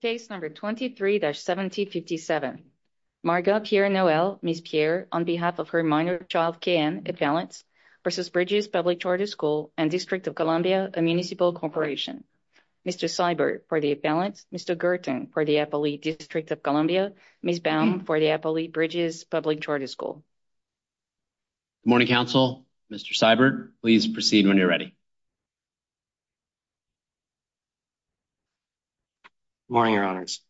Case number 23-1757. Marga Pierre-Noel, Ms. Pierre, on behalf of her minor child K.N. Ippalens versus Bridges Public Charter School and District of Columbia Municipal Corporation. Mr. Seibert for the Ippalens, Mr. Gerten for the Eppolee District of Columbia, Ms. Baum for the Eppolee Bridges Public Charter School. Good morning council. Mr. Seibert, please proceed when you're ready. Morning, your honors.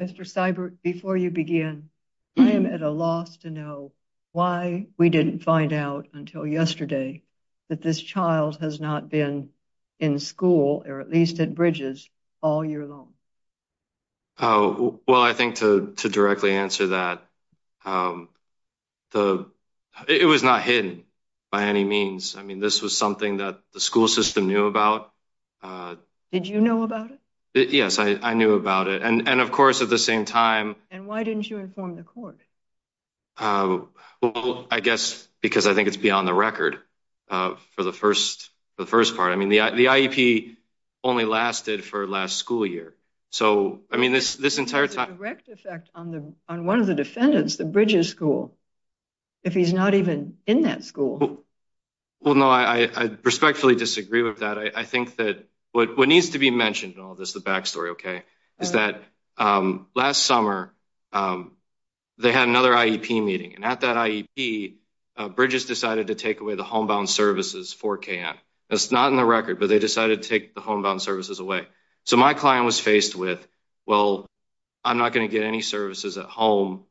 Mr. Seibert, before you begin, I am at a loss to know why we didn't find out until yesterday that this child has not been in school or at least at Bridges all year long. Oh, well, I think to directly answer that, it was not hidden by any means. I mean, this was yes, I knew about it. And of course, at the same time, and why didn't you inform the court? Well, I guess because I think it's beyond the record for the first part. I mean, the IEP only lasted for last school year. So, I mean, this entire time, direct effect on one of the defendants, the Bridges School, if he's not even in that school. Well, no, I respectfully disagree with that. I think that what needs to be mentioned in all this, the backstory, okay, is that last summer, they had another IEP meeting. And at that IEP, Bridges decided to take away the homebound services for KN. That's not in the record, but they decided to take the homebound services away. So my client was faced with, well, I'm not going to get any services at home.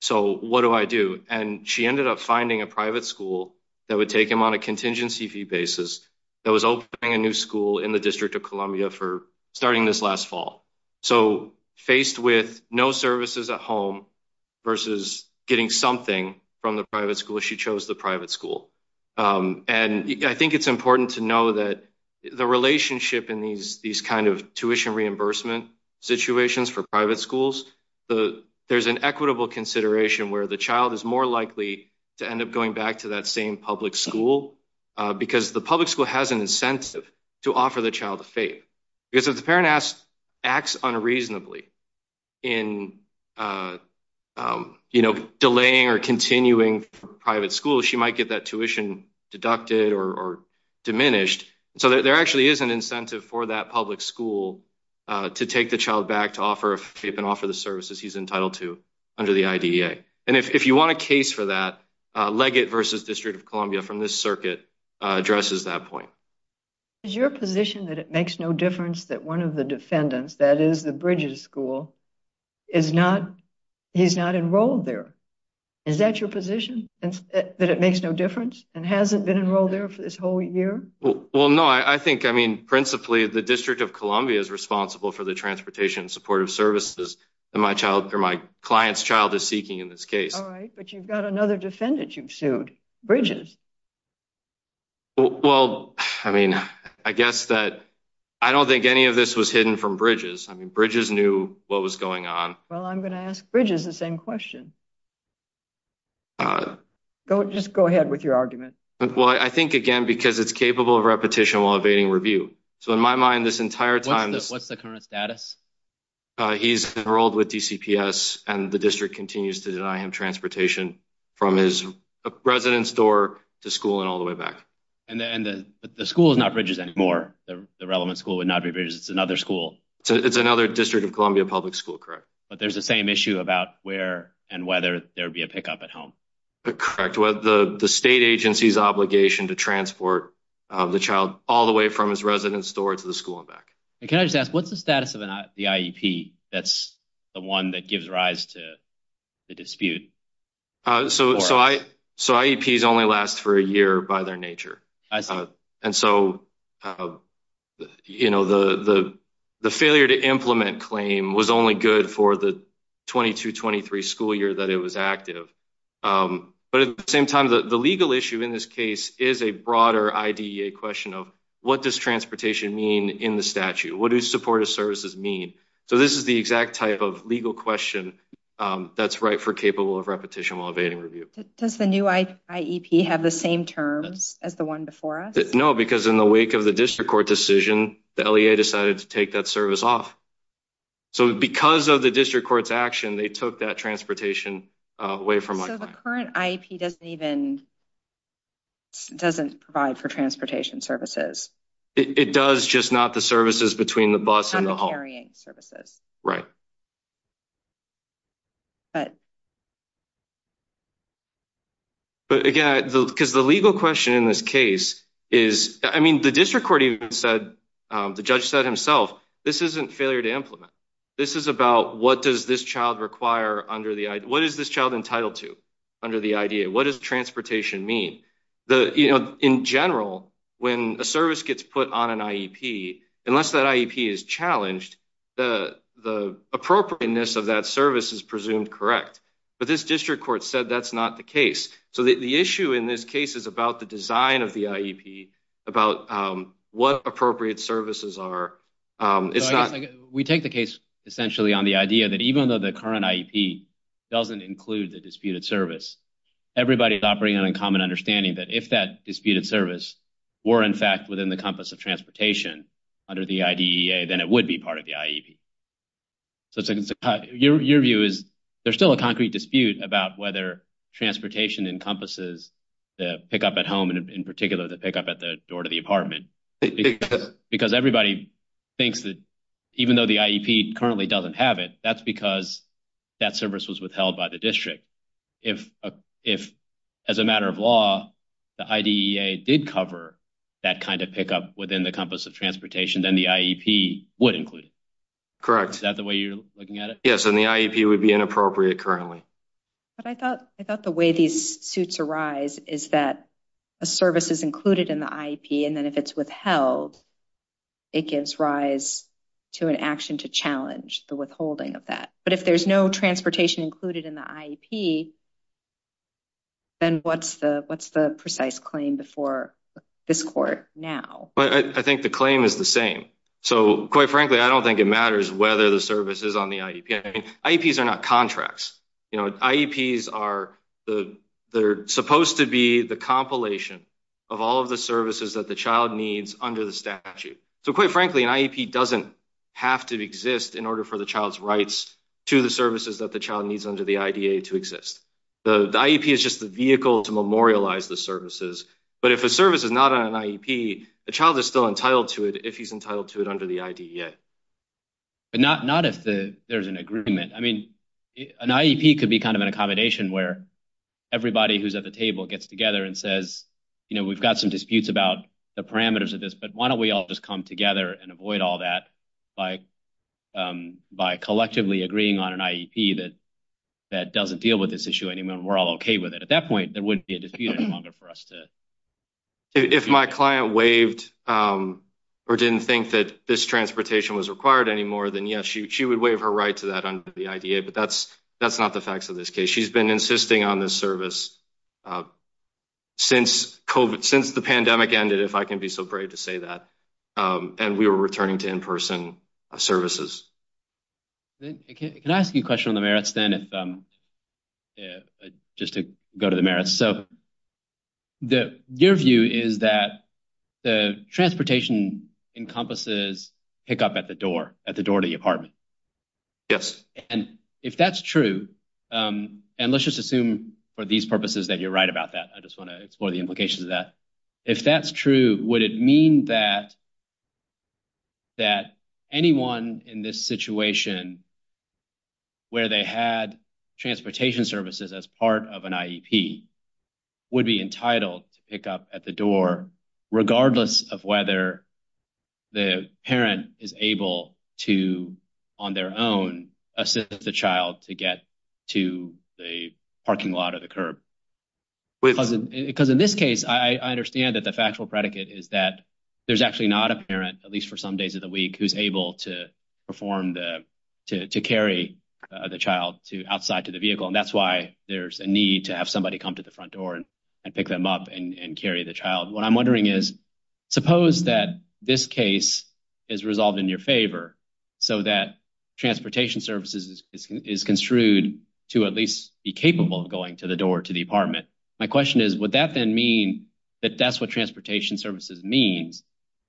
So what do I do? And she ended up finding a private school that would take him on a contingency fee basis that was opening a new school in the District of Columbia for starting this last fall. So faced with no services at home versus getting something from the private school, she chose the private school. And I think it's important to know that the relationship in these kind of tuition reimbursement situations for private schools, there's an equitable consideration where the child is more likely to end up going back to that same public school, because the public school has an incentive to offer the child a FAPE. Because if the parent acts unreasonably in delaying or continuing private school, she might get that tuition deducted or diminished. So there actually is an incentive for that public school to take the child back to offer a FAPE and offer the services he's entitled to the IDEA. And if you want a case for that, Leggett versus District of Columbia from this circuit addresses that point. Is your position that it makes no difference that one of the defendants, that is the Bridges School, is not, he's not enrolled there? Is that your position? And that it makes no difference? And hasn't been enrolled there for this whole year? Well, no, I think, I mean, principally, the District of Columbia is responsible for the child is seeking in this case. All right, but you've got another defendant you've sued, Bridges. Well, I mean, I guess that I don't think any of this was hidden from Bridges. I mean, Bridges knew what was going on. Well, I'm going to ask Bridges the same question. Just go ahead with your argument. Well, I think, again, because it's capable of repetition while evading review. So in my mind, this entire time, what's the current status? He's enrolled with DCPS and the district continues to deny him transportation from his residence door to school and all the way back. And the school is not Bridges anymore. The relevant school would not be Bridges. It's another school. It's another District of Columbia public school, correct. But there's the same issue about where and whether there'd be a pickup at home. Correct. The state agency's obligation to transport the child all the way from his residence door to the school and what's the status of the IEP? That's the one that gives rise to the dispute. So IEPs only last for a year by their nature. And so, you know, the failure to implement claim was only good for the 22-23 school year that it was active. But at the same time, the legal issue in this case is a broader IDEA question of what does transportation mean in the statute? What do supportive services mean? So this is the exact type of legal question that's right for capable of repetition while evading review. Does the new IEP have the same terms as the one before us? No, because in the wake of the district court decision, the LEA decided to take that service off. So because of the district court's action, they took that transportation away from my plan. So the current IEP doesn't even doesn't provide for transportation services. It does, just not the services between the bus and the haul. And the carrying services. Right. But again, because the legal question in this case is, I mean, the district court even said, the judge said himself, this isn't failure to implement. This is about what does this child require under the IDEA? What is this child entitled to under the IDEA? What does transportation mean? The you know, in general, when a service gets put on an IEP, unless that IEP is challenged, the the appropriateness of that service is presumed correct. But this district court said that's not the case. So the issue in this case is about the design of the IEP, about what appropriate services are. It's not we take the case essentially on the idea that even though the current IEP doesn't include the disputed service, everybody's operating on a common understanding that if that disputed service were, in fact, within the compass of transportation under the IDEA, then it would be part of the IEP. So your view is there's still a concrete dispute about whether transportation encompasses the pickup at home and in particular, the pickup at the door to the apartment, because everybody thinks that even though the IEP currently doesn't have it, that's because that service was withheld by the district. If as a matter of law, the IDEA did cover that kind of pickup within the compass of transportation, then the IEP would include it. Correct. Is that the way you're looking at it? Yes. And the IEP would be inappropriate currently. But I thought I thought the way these suits arise is that a service is included in the IEP. And then if it's withheld, it gives rise to an action to challenge the withholding of that. But if there's no transportation included in the IEP, then what's the what's the precise claim before this court now? Well, I think the claim is the same. So quite frankly, I don't think it matters whether the service is on the IEP. IEPs are not contracts. You know, IEPs are the they're supposed to be the compilation of all of the services that the child needs under the statute. So quite frankly, an IEP doesn't have to exist in order for the child's rights to the services that the child needs under the IDEA to exist. The IEP is just the vehicle to memorialize the services. But if a service is not an IEP, the child is still entitled to it if he's entitled to it under the IDEA. But not if there's an agreement. I mean, an IEP could be kind of an accommodation where everybody who's at the table gets together and says, you know, we've got some disputes about the parameters of this, but why don't we all just come together and avoid all that by by collectively agreeing on an IEP that that doesn't deal with this issue anymore. We're all OK with it. At that point, there wouldn't be a dispute any longer for us to. If my client waived or didn't think that this transportation was required anymore, then yes, she would waive her right to that under the IDEA. But that's not the facts of this case. She's been insisting on this service since COVID, since the pandemic ended, if I can be so brave to say that. And we were returning to in-person services. Can I ask you a question on the merits then, just to go to the merits? So your view is that the transportation encompasses pickup at the door, at the door to the apartment? Yes. And if that's true, and let's just assume for these purposes that you're right about that. I just want to explore the implications of that. If that's true, would it mean that that anyone in this situation where they had transportation services as part of an IEP would be entitled to pick up at the door, regardless of whether the parent is able to on their own assist the child to get to the parking lot or the curb? Because in this case, I understand that the factual predicate is that there's actually not a parent, at least for some days of the week, who's able to perform the, to carry the child outside to the vehicle. And that's why there's a need to have somebody come to the front door and pick them up and carry the child. What I'm wondering is, suppose that this case is resolved in your favor so that transportation services is construed to at least be capable of going to the door to the apartment. My question is, would that then mean that that's what transportation services means?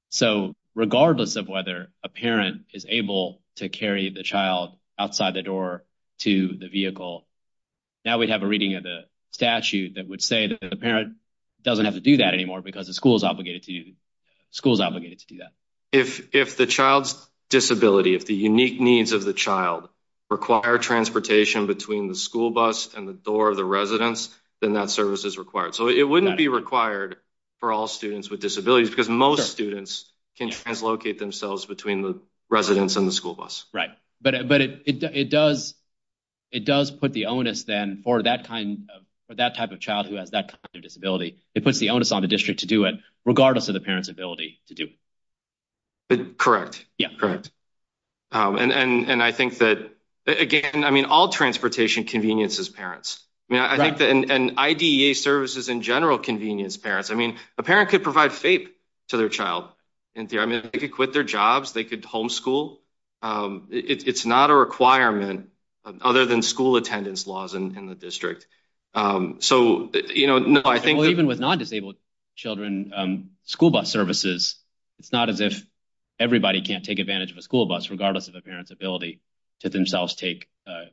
So regardless of whether a parent is able to carry the child outside the door to the vehicle, now we'd have a reading of the statute that would say that the parent doesn't have to do that anymore because the school's obligated to do that. If the child's disability, if the unique needs of the child require transportation between the school bus and the door of the residence, then that service is required. So it wouldn't be required for all students with disabilities because most students can translocate themselves between the residence and the school bus. Right. But it does put the onus then for that kind of, for that type of child who has that kind of disability, it puts the onus on the district to do it regardless of the parent's ability to do it. Correct. Yeah, correct. And I think that again, I mean, all transportation convenience is parents. I think that IDEA services in general convenience parents, I mean, a parent could provide FAPE to their child. I mean, they could quit their jobs, they could homeschool. It's not a requirement other than school attendance laws in the district. So, you know, I think even with non-disabled children, school bus services, it's not as if everybody can't take advantage of a school bus regardless of a parent's ability to themselves take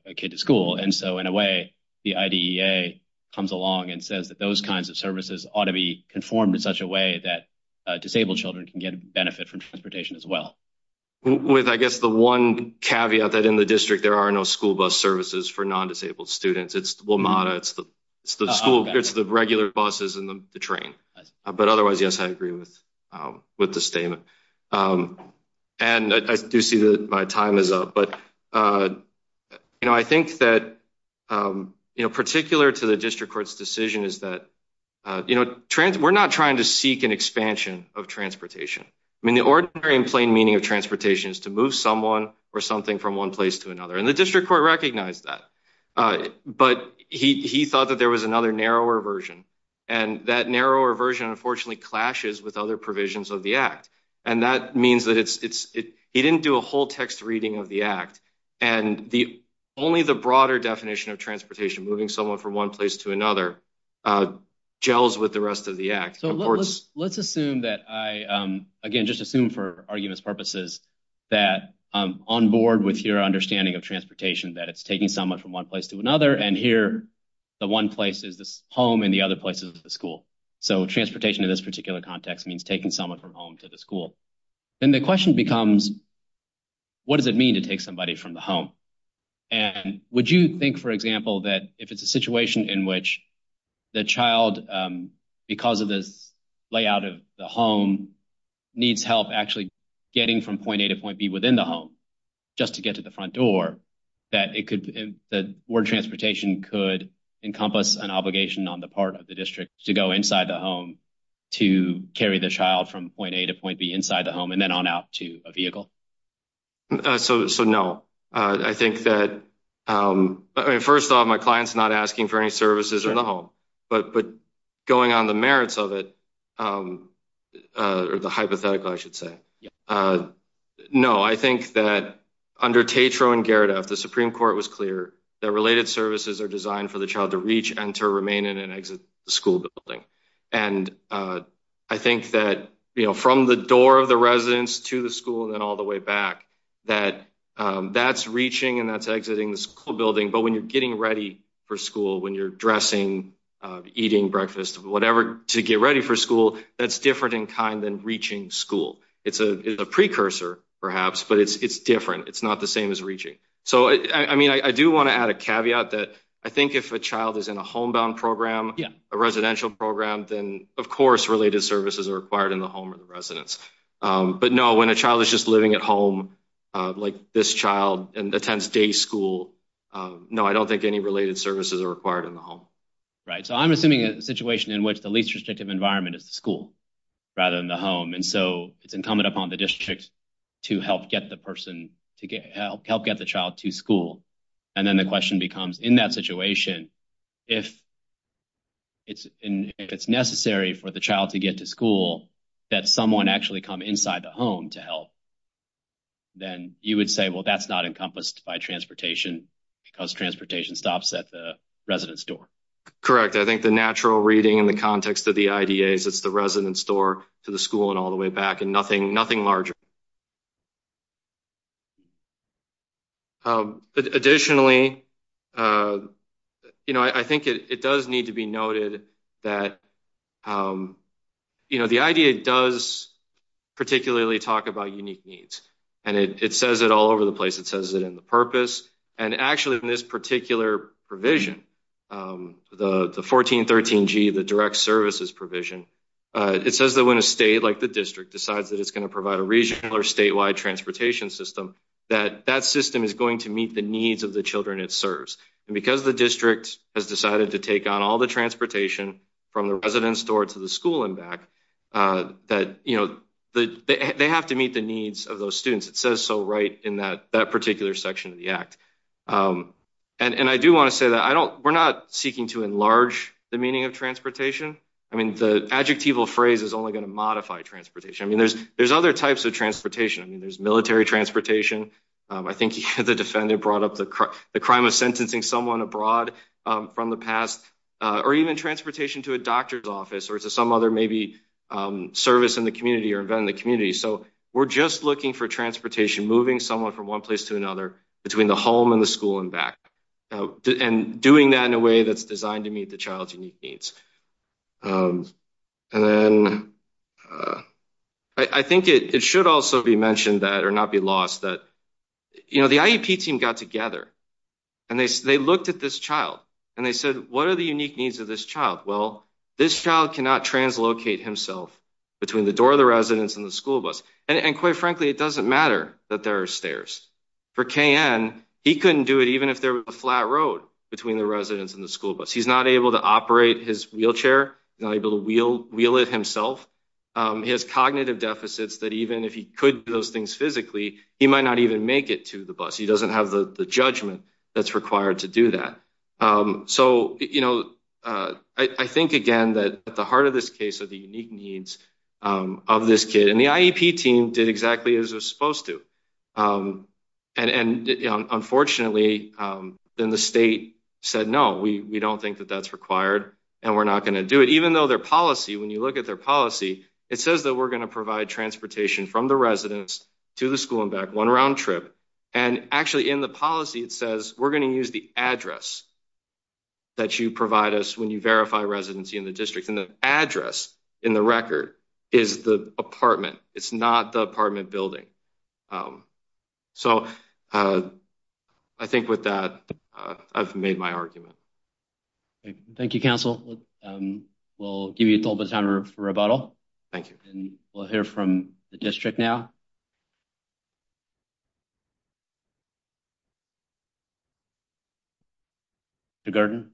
a kid to school. And so in a way, the IDEA comes along and says that those kinds of services ought to be conformed in such a way that disabled children can get benefit from transportation as well. With, I guess, the one caveat that in the district there are no school bus services for non-disabled students. It's WMATA, it's the school, it's the regular buses and the train. But otherwise, yes, I agree with the statement. And I do see that my time is up, but you know, I think that, you know, particular to the district court's decision is that, you know, we're not trying to seek an expansion of transportation. I mean, the ordinary and plain meaning of transportation is to move someone or something from one place to another. And the district court recognized that. But he thought that there was another narrower version. And that narrower version, unfortunately, clashes with other provisions of the Act. And that means that it's, he didn't do a whole text reading of the Act. And only the broader definition of transportation, moving someone from one place to another, gels with the rest of the Act. So let's assume that I, again, just assume for arguments purposes that I'm on board with your understanding of transportation, that it's taking someone from one place to another. And here, the one place is this home and the other place is the school. So transportation in this particular context means taking someone from home to the school. Then the question becomes, what does it mean to take somebody from the home? And would you think, for example, that if it's a situation in which the child, because of this out of the home, needs help actually getting from point A to point B within the home, just to get to the front door, that it could, that board transportation could encompass an obligation on the part of the district to go inside the home to carry the child from point A to point B inside the home and then on out to a vehicle? So no. I think that, I mean, first off, my client's not asking for any services in the home, but going on the merits of it, or the hypothetical, I should say. No, I think that under Tatro and Geredef, the Supreme Court was clear that related services are designed for the child to reach, enter, remain in, and exit the school building. And I think that from the door of the residence to the school and then all the way back, that that's reaching and that's exiting the school building. But when you're ready for school, when you're dressing, eating breakfast, whatever, to get ready for school, that's different in kind than reaching school. It's a precursor, perhaps, but it's different. It's not the same as reaching. So, I mean, I do want to add a caveat that I think if a child is in a homebound program, a residential program, then, of course, related services are required in the home or the residence. But no, when a child is just living at home, like this child and attends day school, no, I don't think any related services are required in the home. Right. So, I'm assuming a situation in which the least restrictive environment is the school rather than the home. And so, it's incumbent upon the district to help get the person, to help get the child to school. And then the question becomes, in that situation, if it's necessary for the child to get to school, that someone actually come inside the home to help, then you would say, well, that's not encompassed by transportation because transportation stops at the residence door. Correct. I think the natural reading in the context of the IDA is it's the residence door to the school and all the way back and nothing larger. Additionally, you know, I think it does need to be noted that, you know, the IDA does particularly talk about unique needs. And it says it all over the place. It says it in the purpose. And actually, in this particular provision, the 1413G, the direct services provision, it says that when a state like the district decides that it's going to provide a regional or statewide transportation system, that that system is going to meet the needs of the children it serves. And because the district has decided to take on all the transportation from the residence door to the school and back, that, you know, they have to meet the needs of those students. It says so right in that particular section of the act. And I do want to say that I don't, we're not seeking to enlarge the meaning of transportation. I mean, the adjectival phrase is only going to modify transportation. I mean, there's other types of transportation. I mean, there's military transportation. I think the defendant brought up the crime of someone abroad from the past, or even transportation to a doctor's office or to some other maybe service in the community or event in the community. So we're just looking for transportation, moving someone from one place to another, between the home and the school and back, and doing that in a way that's designed to meet the child's unique needs. And then I think it should also be mentioned that, or not be lost, that, you know, the IEP team got together, and they looked at this child, and they said, what are the unique needs of this child? Well, this child cannot translocate himself between the door of the residence and the school bus. And quite frankly, it doesn't matter that there are stairs. For KN, he couldn't do it even if there was a flat road between the residence and the school bus. He's not able to operate his wheelchair, not able to wheel it himself. He has cognitive deficits that even if he could do those things physically, he might not even make it to the bus. He doesn't have the judgment that's required to do that. So, you know, I think, again, that at the heart of this case are the unique needs of this kid. And the IEP team did exactly as they're supposed to. And unfortunately, then the state said, no, we don't think that that's required, and we're not going to do it. Even though their policy, when you look at their policy, it says that we're going to provide transportation from the residence to the school and back one round trip. And actually in the policy, it says we're going to use the address that you provide us when you verify residency in the district. And the address in the record is the apartment. It's not the apartment building. So I think with that, I've made my argument. Okay, thank you, counsel. We'll give you a little bit of time for rebuttal. Thank you. And we'll hear from the district now. Good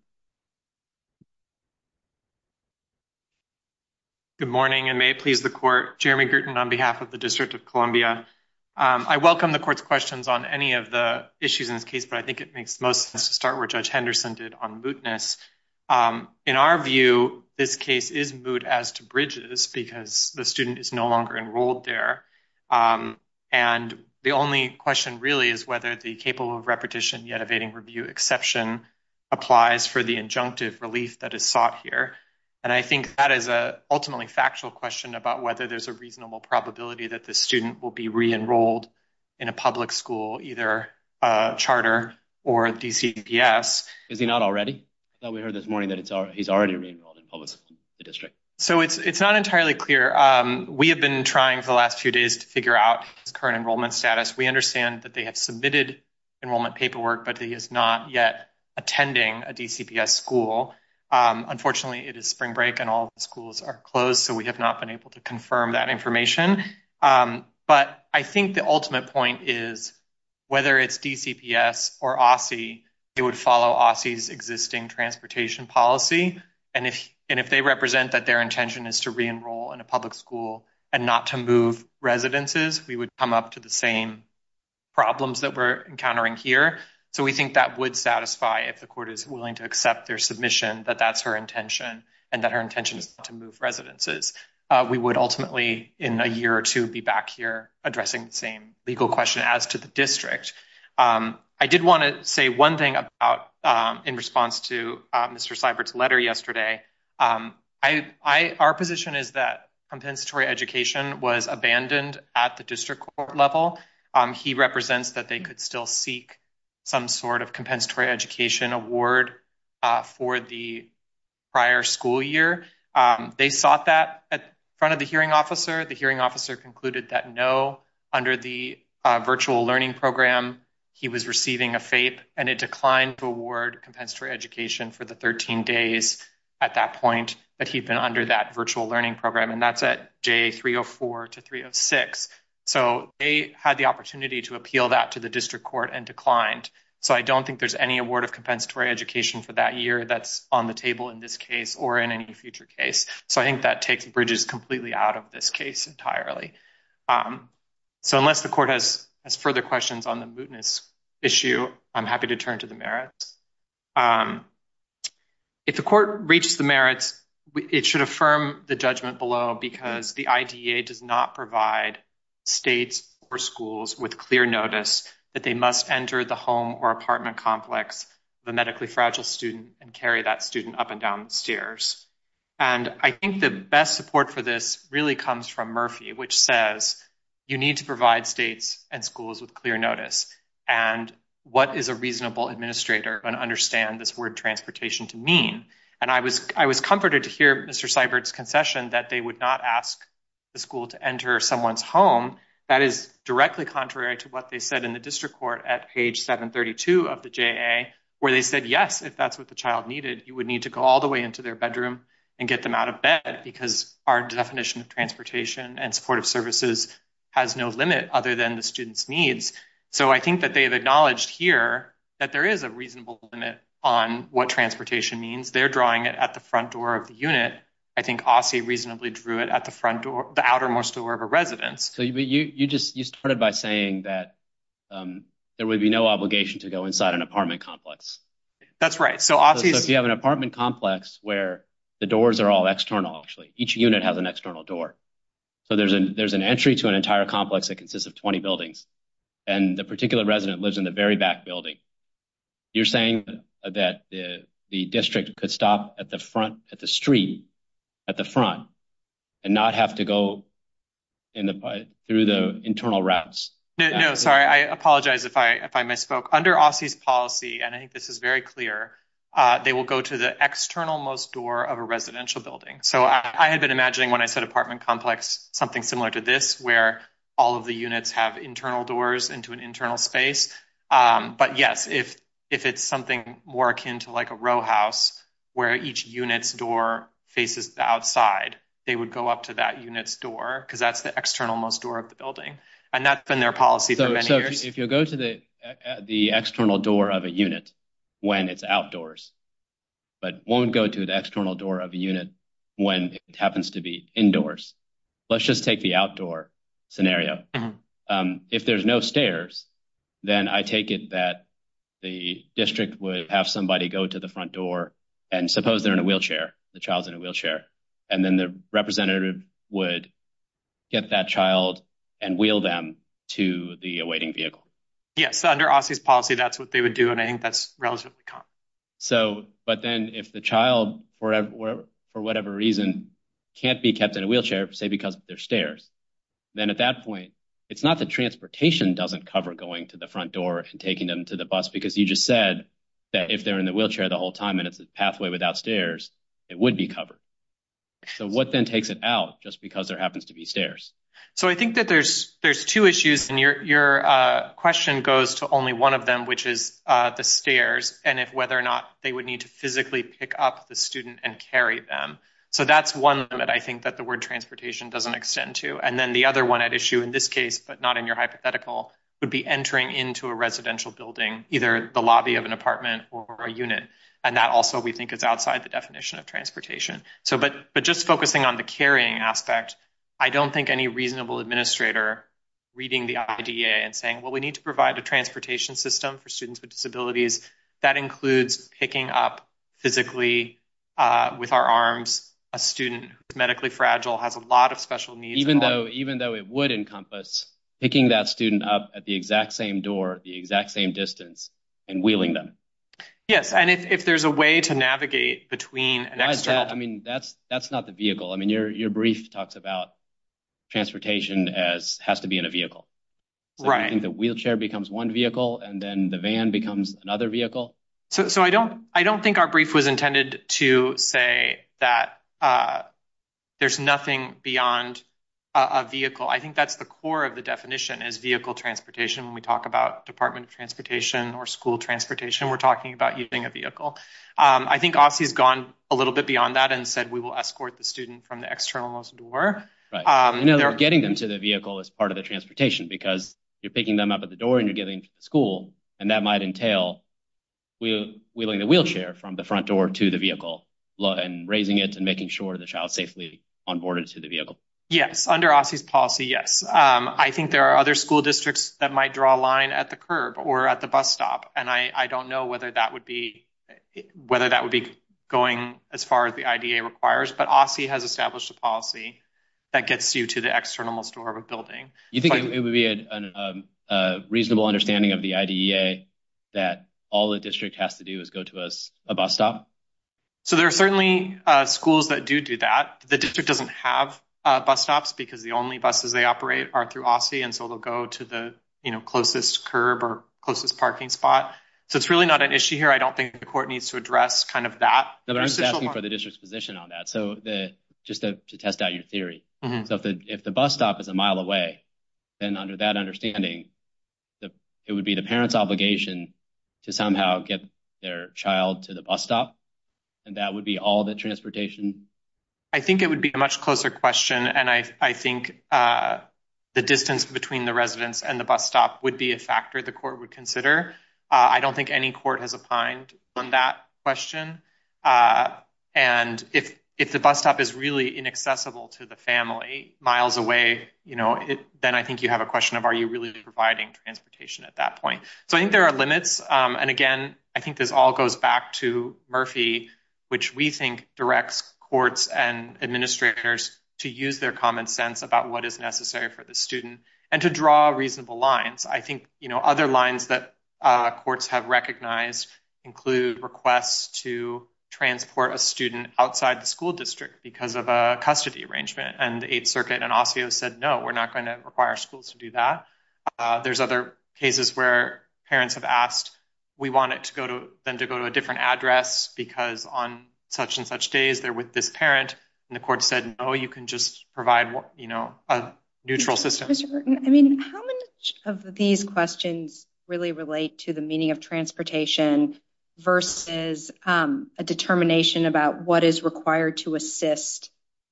morning, and may it please the court. Jeremy Gritton on behalf of the District of Columbia. I welcome the court's questions on any of the issues in this case, but I think it makes the start where Judge Henderson did on mootness. In our view, this case is moot as to bridges, because the student is no longer enrolled there. And the only question really is whether the capable of repetition yet evading review exception applies for the injunctive relief that is sought here. And I think that is a ultimately factual question about whether there's a reasonable probability that the student will be re-enrolled in a public school, either a charter or DCPS. Is he not already? We heard this morning that he's already re-enrolled in the district. So it's not entirely clear. We have been trying for the last few days to figure out his current enrollment status. We understand that they have submitted enrollment paperwork, but he is not yet attending a DCPS school. Unfortunately, it is spring break and all schools are closed. So we have not been able to confirm that information. But I think the ultimate point is, whether it's DCPS or OSSE, it would follow OSSE's existing transportation policy. And if they represent that their intention is to re-enroll in a public school and not to move residences, we would come up to the same problems that we're encountering here. So we think that would satisfy if the court is willing to accept their submission, that that's her intention and that her intention is to move residences. We would ultimately, in a year or two, be back here addressing the same legal question as to the district. I did want to say one thing about, in response to Mr. Seibert's letter yesterday, our position is that compensatory education was abandoned at the district court level. He represents that they could still seek some sort of compensatory education award for the prior school year. They sought that at front of the hearing officer. The hearing officer concluded that no, under the virtual learning program, he was receiving a FAPE and it declined to award compensatory education for the 13 days at that point that he'd been under that virtual learning program. And that's at day 304 to 306. So they had the opportunity to appeal that to the district court and declined. So I don't think there's any award of compensatory education for that year that's on the table in this case or in any future case. So I think that takes bridges completely out of this case entirely. So unless the court has further questions on the mootness issue, I'm happy to turn to the merits. If the court reaches the merits, it should affirm the judgment below because the IDEA does not provide states or schools with clear notice that they must enter the home or carry that student up and down the stairs. And I think the best support for this really comes from Murphy, which says you need to provide states and schools with clear notice. And what is a reasonable administrator going to understand this word transportation to mean? And I was comforted to hear Mr. Seibert's concession that they would not ask the school to enter someone's home. That is directly contrary to what they said in the district court at page 732 of the JA, where they said yes, if that's what the child needed, you would need to go all the way into their bedroom and get them out of bed because our definition of transportation and supportive services has no limit other than the student's needs. So I think that they have acknowledged here that there is a reasonable limit on what transportation means. They're drawing it at the front door of the unit. I think Aussie reasonably drew it at the front door, the outermost door of a residence. So you just you started by saying that there would be no So if you have an apartment complex where the doors are all external actually, each unit has an external door. So there's an entry to an entire complex that consists of 20 buildings. And the particular resident lives in the very back building. You're saying that the district could stop at the front at the street at the front and not have to go in the through the internal routes. No, sorry. I apologize if I misspoke. Under Aussie's policy, and I think this is very clear, they will go to the external most door of a residential building. So I had been imagining when I said apartment complex, something similar to this, where all of the units have internal doors into an internal space. But yes, if it's something more akin to like a row house, where each unit's door faces the outside, they would go up to that unit's door because that's the external most door of the building. And that's been their of a unit when it's outdoors, but won't go to the external door of a unit when it happens to be indoors. Let's just take the outdoor scenario. If there's no stairs, then I take it that the district would have somebody go to the front door and suppose they're in a wheelchair, the child's in a wheelchair, and then the representative would get that child and wheel them to the awaiting vehicle. Yes, under Aussie's policy, that's what they would do, and I think that's relatively common. But then if the child, for whatever reason, can't be kept in a wheelchair, say because there's stairs, then at that point, it's not that transportation doesn't cover going to the front door and taking them to the bus, because you just said that if they're in the wheelchair the whole time and it's a pathway without stairs, it would be covered. So what then takes it out just because there happens to be stairs? So I think that there's two issues, and your question goes to only one of them, which is the stairs and whether or not they would need to physically pick up the student and carry them. So that's one that I think that the word transportation doesn't extend to. And then the other one at issue in this case, but not in your hypothetical, would be entering into a residential building, either the lobby of an apartment or a carrying aspect. I don't think any reasonable administrator reading the IDA and saying, well, we need to provide a transportation system for students with disabilities. That includes picking up physically with our arms a student who's medically fragile, has a lot of special needs. Even though it would encompass picking that student up at the exact same door, the exact same distance, and wheeling them. Yes, and if there's a way to navigate between an external... I mean, that's not the vehicle. I mean, your brief talks about transportation as has to be in a vehicle, right? And the wheelchair becomes one vehicle, and then the van becomes another vehicle. So I don't think our brief was intended to say that there's nothing beyond a vehicle. I think that's the core of the definition is vehicle transportation. When we talk about Department of Transportation or school transportation, we're talking about using a vehicle. I think Ossie's gone a little bit beyond that and said we will escort the student from the external most door. Right, you know, they're getting them to the vehicle as part of the transportation because you're picking them up at the door and you're getting to the school, and that might entail wheeling the wheelchair from the front door to the vehicle, and raising it and making sure the child's safely onboarded to the vehicle. Yes, under Ossie's policy, yes. I think there are other school districts that might draw a line at the curb or at the bus stop, and I don't know whether that would be going as far as the IDEA requires, but Ossie has established a policy that gets you to the external most door of a building. You think it would be a reasonable understanding of the IDEA that all the district has to do is go to a bus stop? So there are certainly schools that do do that. The district doesn't have bus stops because the only buses they operate are through Ossie, and so they'll go to the closest curb or closest I don't think the court needs to address kind of that. No, but I'm just asking for the district's position on that, so just to test out your theory. So if the bus stop is a mile away, then under that understanding, it would be the parent's obligation to somehow get their child to the bus stop, and that would be all the transportation? I think it would be a much closer question, and I think the distance between the residence and the bus stop would be a factor the court would consider. I don't think any court has opined on that question, and if the bus stop is really inaccessible to the family, miles away, then I think you have a question of are you really providing transportation at that point? So I think there are limits, and again, I think this all goes back to Murphy, which we think directs courts and administrators to use their common sense about what is necessary for the student and to draw reasonable lines. I think other lines that courts have recognized include requests to transport a student outside the school district because of a custody arrangement, and the 8th Circuit and OSSEO said no, we're not going to require schools to do that. There's other cases where parents have asked, we want them to go to a different address because on such and such days they're with this parent, and the court said no, you can just provide a neutral system. How many of these questions really relate to the meaning of transportation versus a determination about what is required to assist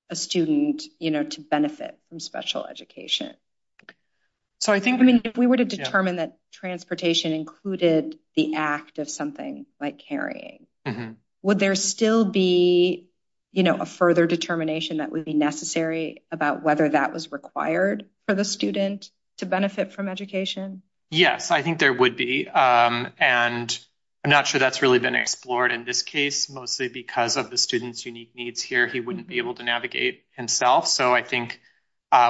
a student to benefit from special education? So I think if we were to determine that transportation included the act of something like carrying, would there still be, you know, a further determination that would be necessary about whether that was required for the student to benefit from education? Yes, I think there would be, and I'm not sure that's really been explored in this case, mostly because of the student's unique needs here, he wouldn't be able to navigate himself. So I think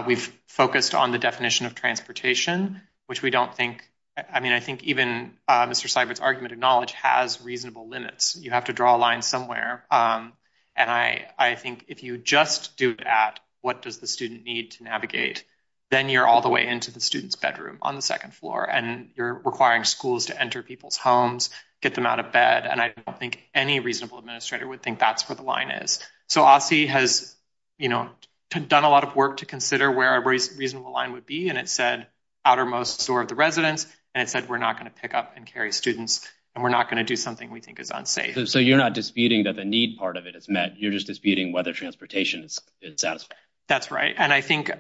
we've of transportation, which we don't think, I mean, I think even Mr. Seibert's argument of knowledge has reasonable limits. You have to draw a line somewhere, and I think if you just do that, what does the student need to navigate? Then you're all the way into the student's bedroom on the second floor, and you're requiring schools to enter people's homes, get them out of bed, and I don't think any reasonable administrator would think that's what the line is. So OSSEO has, you know, done a lot of work to consider where a reasonable line would be, and it said outermost store of the residence, and it said we're not going to pick up and carry students, and we're not going to do something we think is unsafe. So you're not disputing that the need part of it is met, you're just disputing whether transportation is satisfactory. That's right, and I think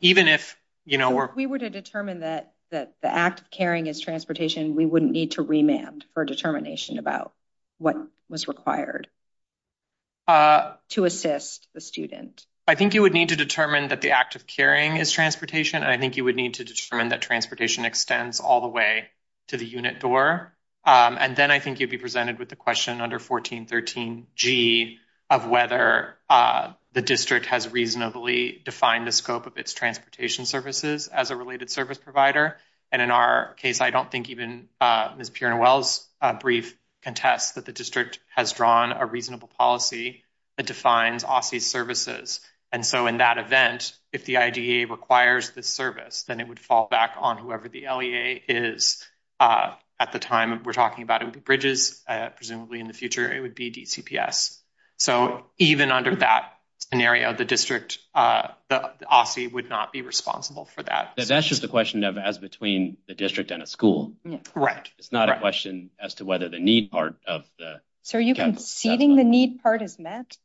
even if, you know, we were to determine that the act of carrying is transportation, we wouldn't need to remand for determination about what was required to assist the student. I think you would need to determine that the act of carrying is transportation, and I think you would need to determine that transportation extends all the way to the unit door, and then I think you'd be presented with the question under 1413G of whether the district has reasonably defined the scope of its transportation services as a related service provider, and in our case, I don't think even Ms. Pierone-Wells' brief contests that the district has drawn a reasonable policy that defines OSCE's services, and so in that event, if the IDEA requires this service, then it would fall back on whoever the LEA is at the time we're talking about. It would be Bridges, presumably in the future it would be DCPS. So even under that scenario, the district, the OSCE would not be responsible for that. That's just a question of as between the district and a school. Right. It's not a question as to the need part of the... So are you conceding the need part is met?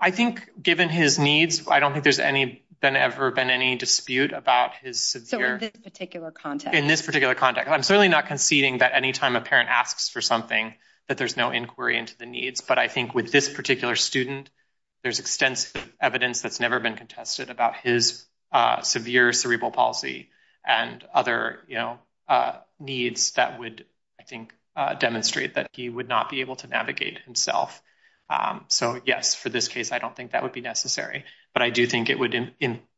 I think given his needs, I don't think there's been ever been any dispute about his severe... So in this particular context? In this particular context. I'm certainly not conceding that anytime a parent asks for something that there's no inquiry into the needs, but I think with this particular student, there's extensive evidence that's never been contested about his severe cerebral palsy and other needs that would, I think, demonstrate that he would not be able to navigate himself. So yes, for this case, I don't think that would be necessary, but I do think it would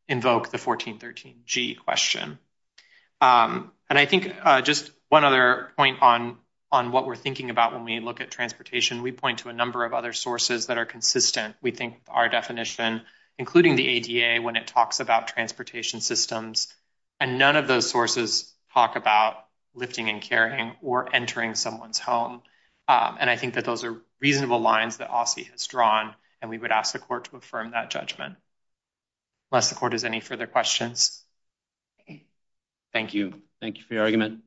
invoke the 1413G question. And I think just one other point on what we're thinking about when we look at transportation, we point to a number of other sources that are consistent. We think our definition, including the ADA, when it talks about transportation systems, and none of those sources talk about lifting and carrying or entering someone's home. And I think that those are reasonable lines that Aussie has drawn, and we would ask the court to affirm that judgment. Unless the court has any further questions. Thank you. Thank you for your argument.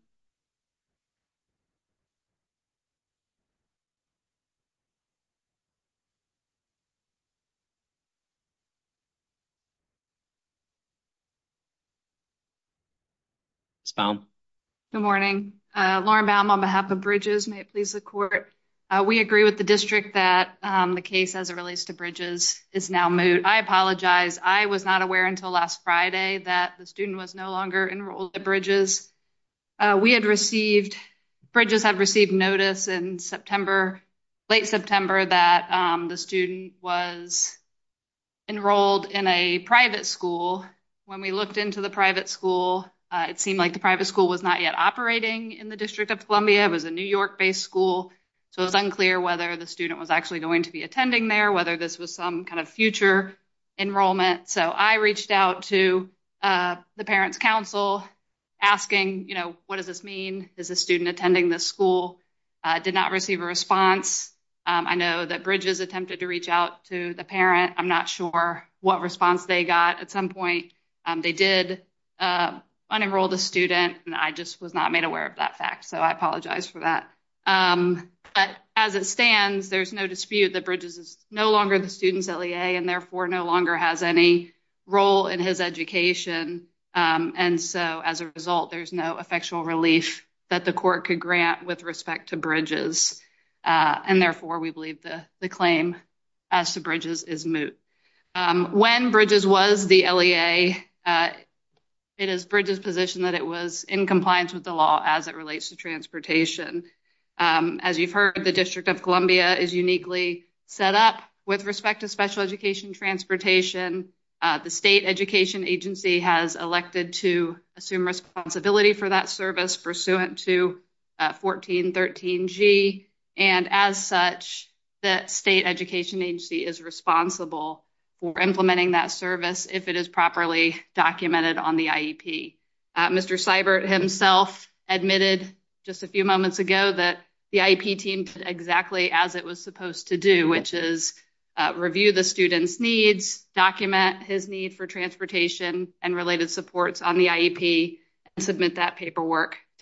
Ms. Baum. Good morning. Lauren Baum on behalf of Bridges. May it please the court. We agree with the district that the case as it relates to Bridges is now moot. I apologize. I was not aware until last Friday that the student was no longer enrolled at Bridges. We had received, Bridges had received notice in September, late September, that the student was at a private school. It seemed like the private school was not yet operating in the District of Columbia. It was a New York-based school. So it was unclear whether the student was actually going to be attending there, whether this was some kind of future enrollment. So I reached out to the parents' council asking, you know, what does this mean? Is the student attending this school? I did not receive a response. I know that Bridges attempted to reach out to the parent. I'm not what response they got. At some point, they did unenroll the student. I just was not made aware of that fact. So I apologize for that. But as it stands, there's no dispute that Bridges is no longer the student's LEA and therefore no longer has any role in his education. And so as a result, there's no effectual relief that the court could grant with respect to Bridges. And therefore, we believe the claim as to Bridges is moot. When Bridges was the LEA, it is Bridges' position that it was in compliance with the law as it relates to transportation. As you've heard, the District of Columbia is uniquely set up with respect to special education transportation. The state education agency has elected to assume responsibility for that service pursuant to 1413G. And as such, that state education agency is responsible for implementing that service if it is properly documented on the IEP. Mr. Seibert himself admitted just a few moments ago that the IEP team did exactly as it was supposed to do, which is review the student's needs, document his need for transportation and related supports on the IEP, and submit that to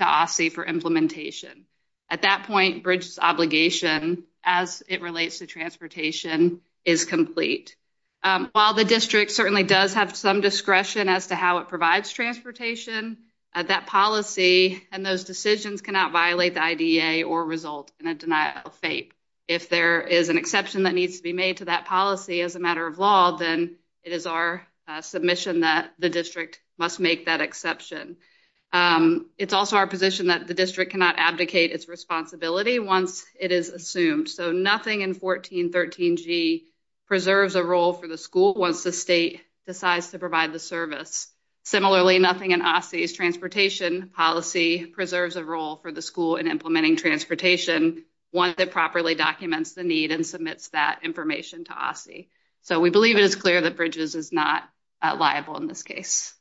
OSSE for implementation. At that point, Bridges' obligation as it relates to transportation is complete. While the district certainly does have some discretion as to how it provides transportation, that policy and those decisions cannot violate the IDEA or result in a denial of FAPE. If there is an exception that needs to be made to that policy as a matter of law, then it is our submission that the district must make that exception. It's also our position that the district cannot abdicate its responsibility once it is assumed. So nothing in 1413G preserves a role for the school once the state decides to provide the service. Similarly, nothing in OSSE's transportation policy preserves a role for the school in implementing transportation once it properly documents the need and submits that information to OSSE. So we believe it is clear that Bridges is not liable in this case.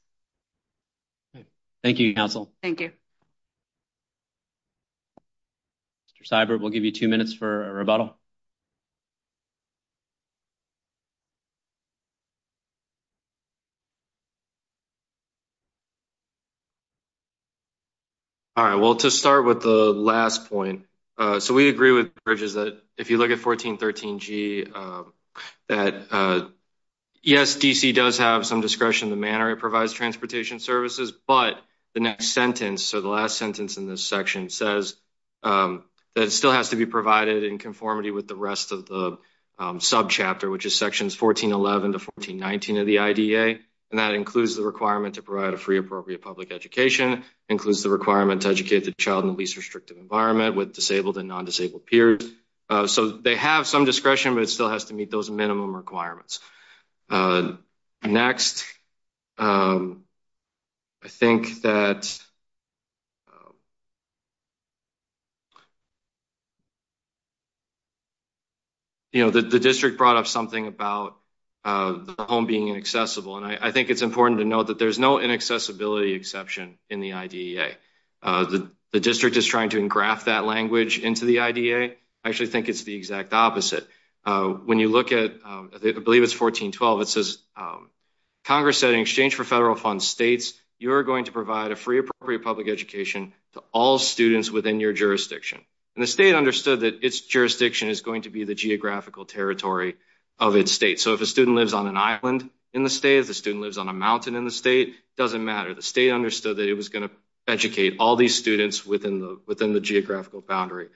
Thank you, Council. Thank you. Mr. Seibert, we'll give you two minutes for a rebuttal. All right, well to start with the last point, so we agree with Bridges that if you look at 1413G that yes, D.C. does have some discretion in the manner it provides transportation services, but the next sentence, so the last sentence in this section says that it still has to be provided in conformity with the rest of the subchapter, which is sections 1411 to 1419 of the IDEA, and that includes the requirement to provide a free appropriate public education, includes the requirement to educate the child in the least restrictive environment with disabled and non-disabled peers. So they have some discretion, but it still has to meet those minimum requirements. Next, I think that, you know, the district brought up something about the home being inaccessible, and I think it's important to note that there's no inaccessibility exception in the IDEA. The district is trying to engraft that language into the IDEA. I actually think it's the exact opposite. When you look at, I believe it's 1412, it says Congress said in exchange for federal funds states, you're going to provide a free appropriate public education to all students within your jurisdiction, and the state understood that its jurisdiction is going to be the geographical territory of its state. So if a student lives on an island in the state, a student lives on a mountain in the state, it doesn't matter. The state understood that it was going to educate all these students within the geographical boundary.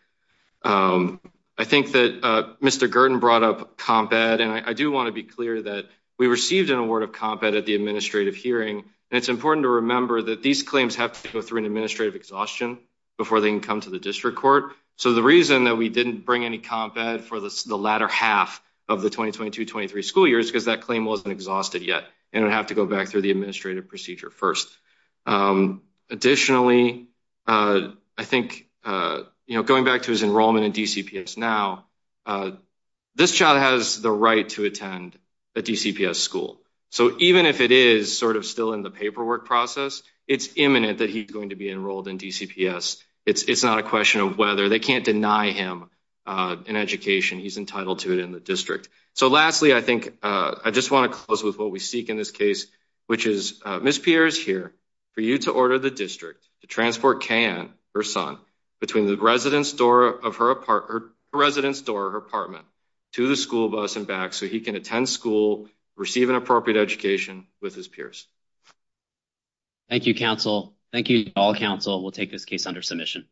I think that Mr. Gurdon brought up comp ed, and I do want to be clear that we received an award of comp ed at the administrative hearing, and it's important to remember that these claims have to go through an administrative exhaustion before they can come to the district court. So the reason that we didn't bring any comp ed for the latter half of the 2022-23 school year is because that claim wasn't exhausted yet. It would have to go back through the administrative procedure first. Additionally, I think, you know, going back to his enrollment in DCPS now, this child has the right to attend a DCPS school. So even if it is sort of still in the paperwork process, it's imminent that he's going to be enrolled in DCPS. It's not a question of whether. They can't deny him an education. He's going to be enrolled in DCPS. So I just want to close with what we seek in this case, which is, Ms. Pierre is here for you to order the district to transport Kayanne, her son, between the residence door of her apartment to the school bus and back so he can attend school, receive an appropriate education with his peers. Thank you, counsel. Thank you, all counsel. We'll take this case under submission.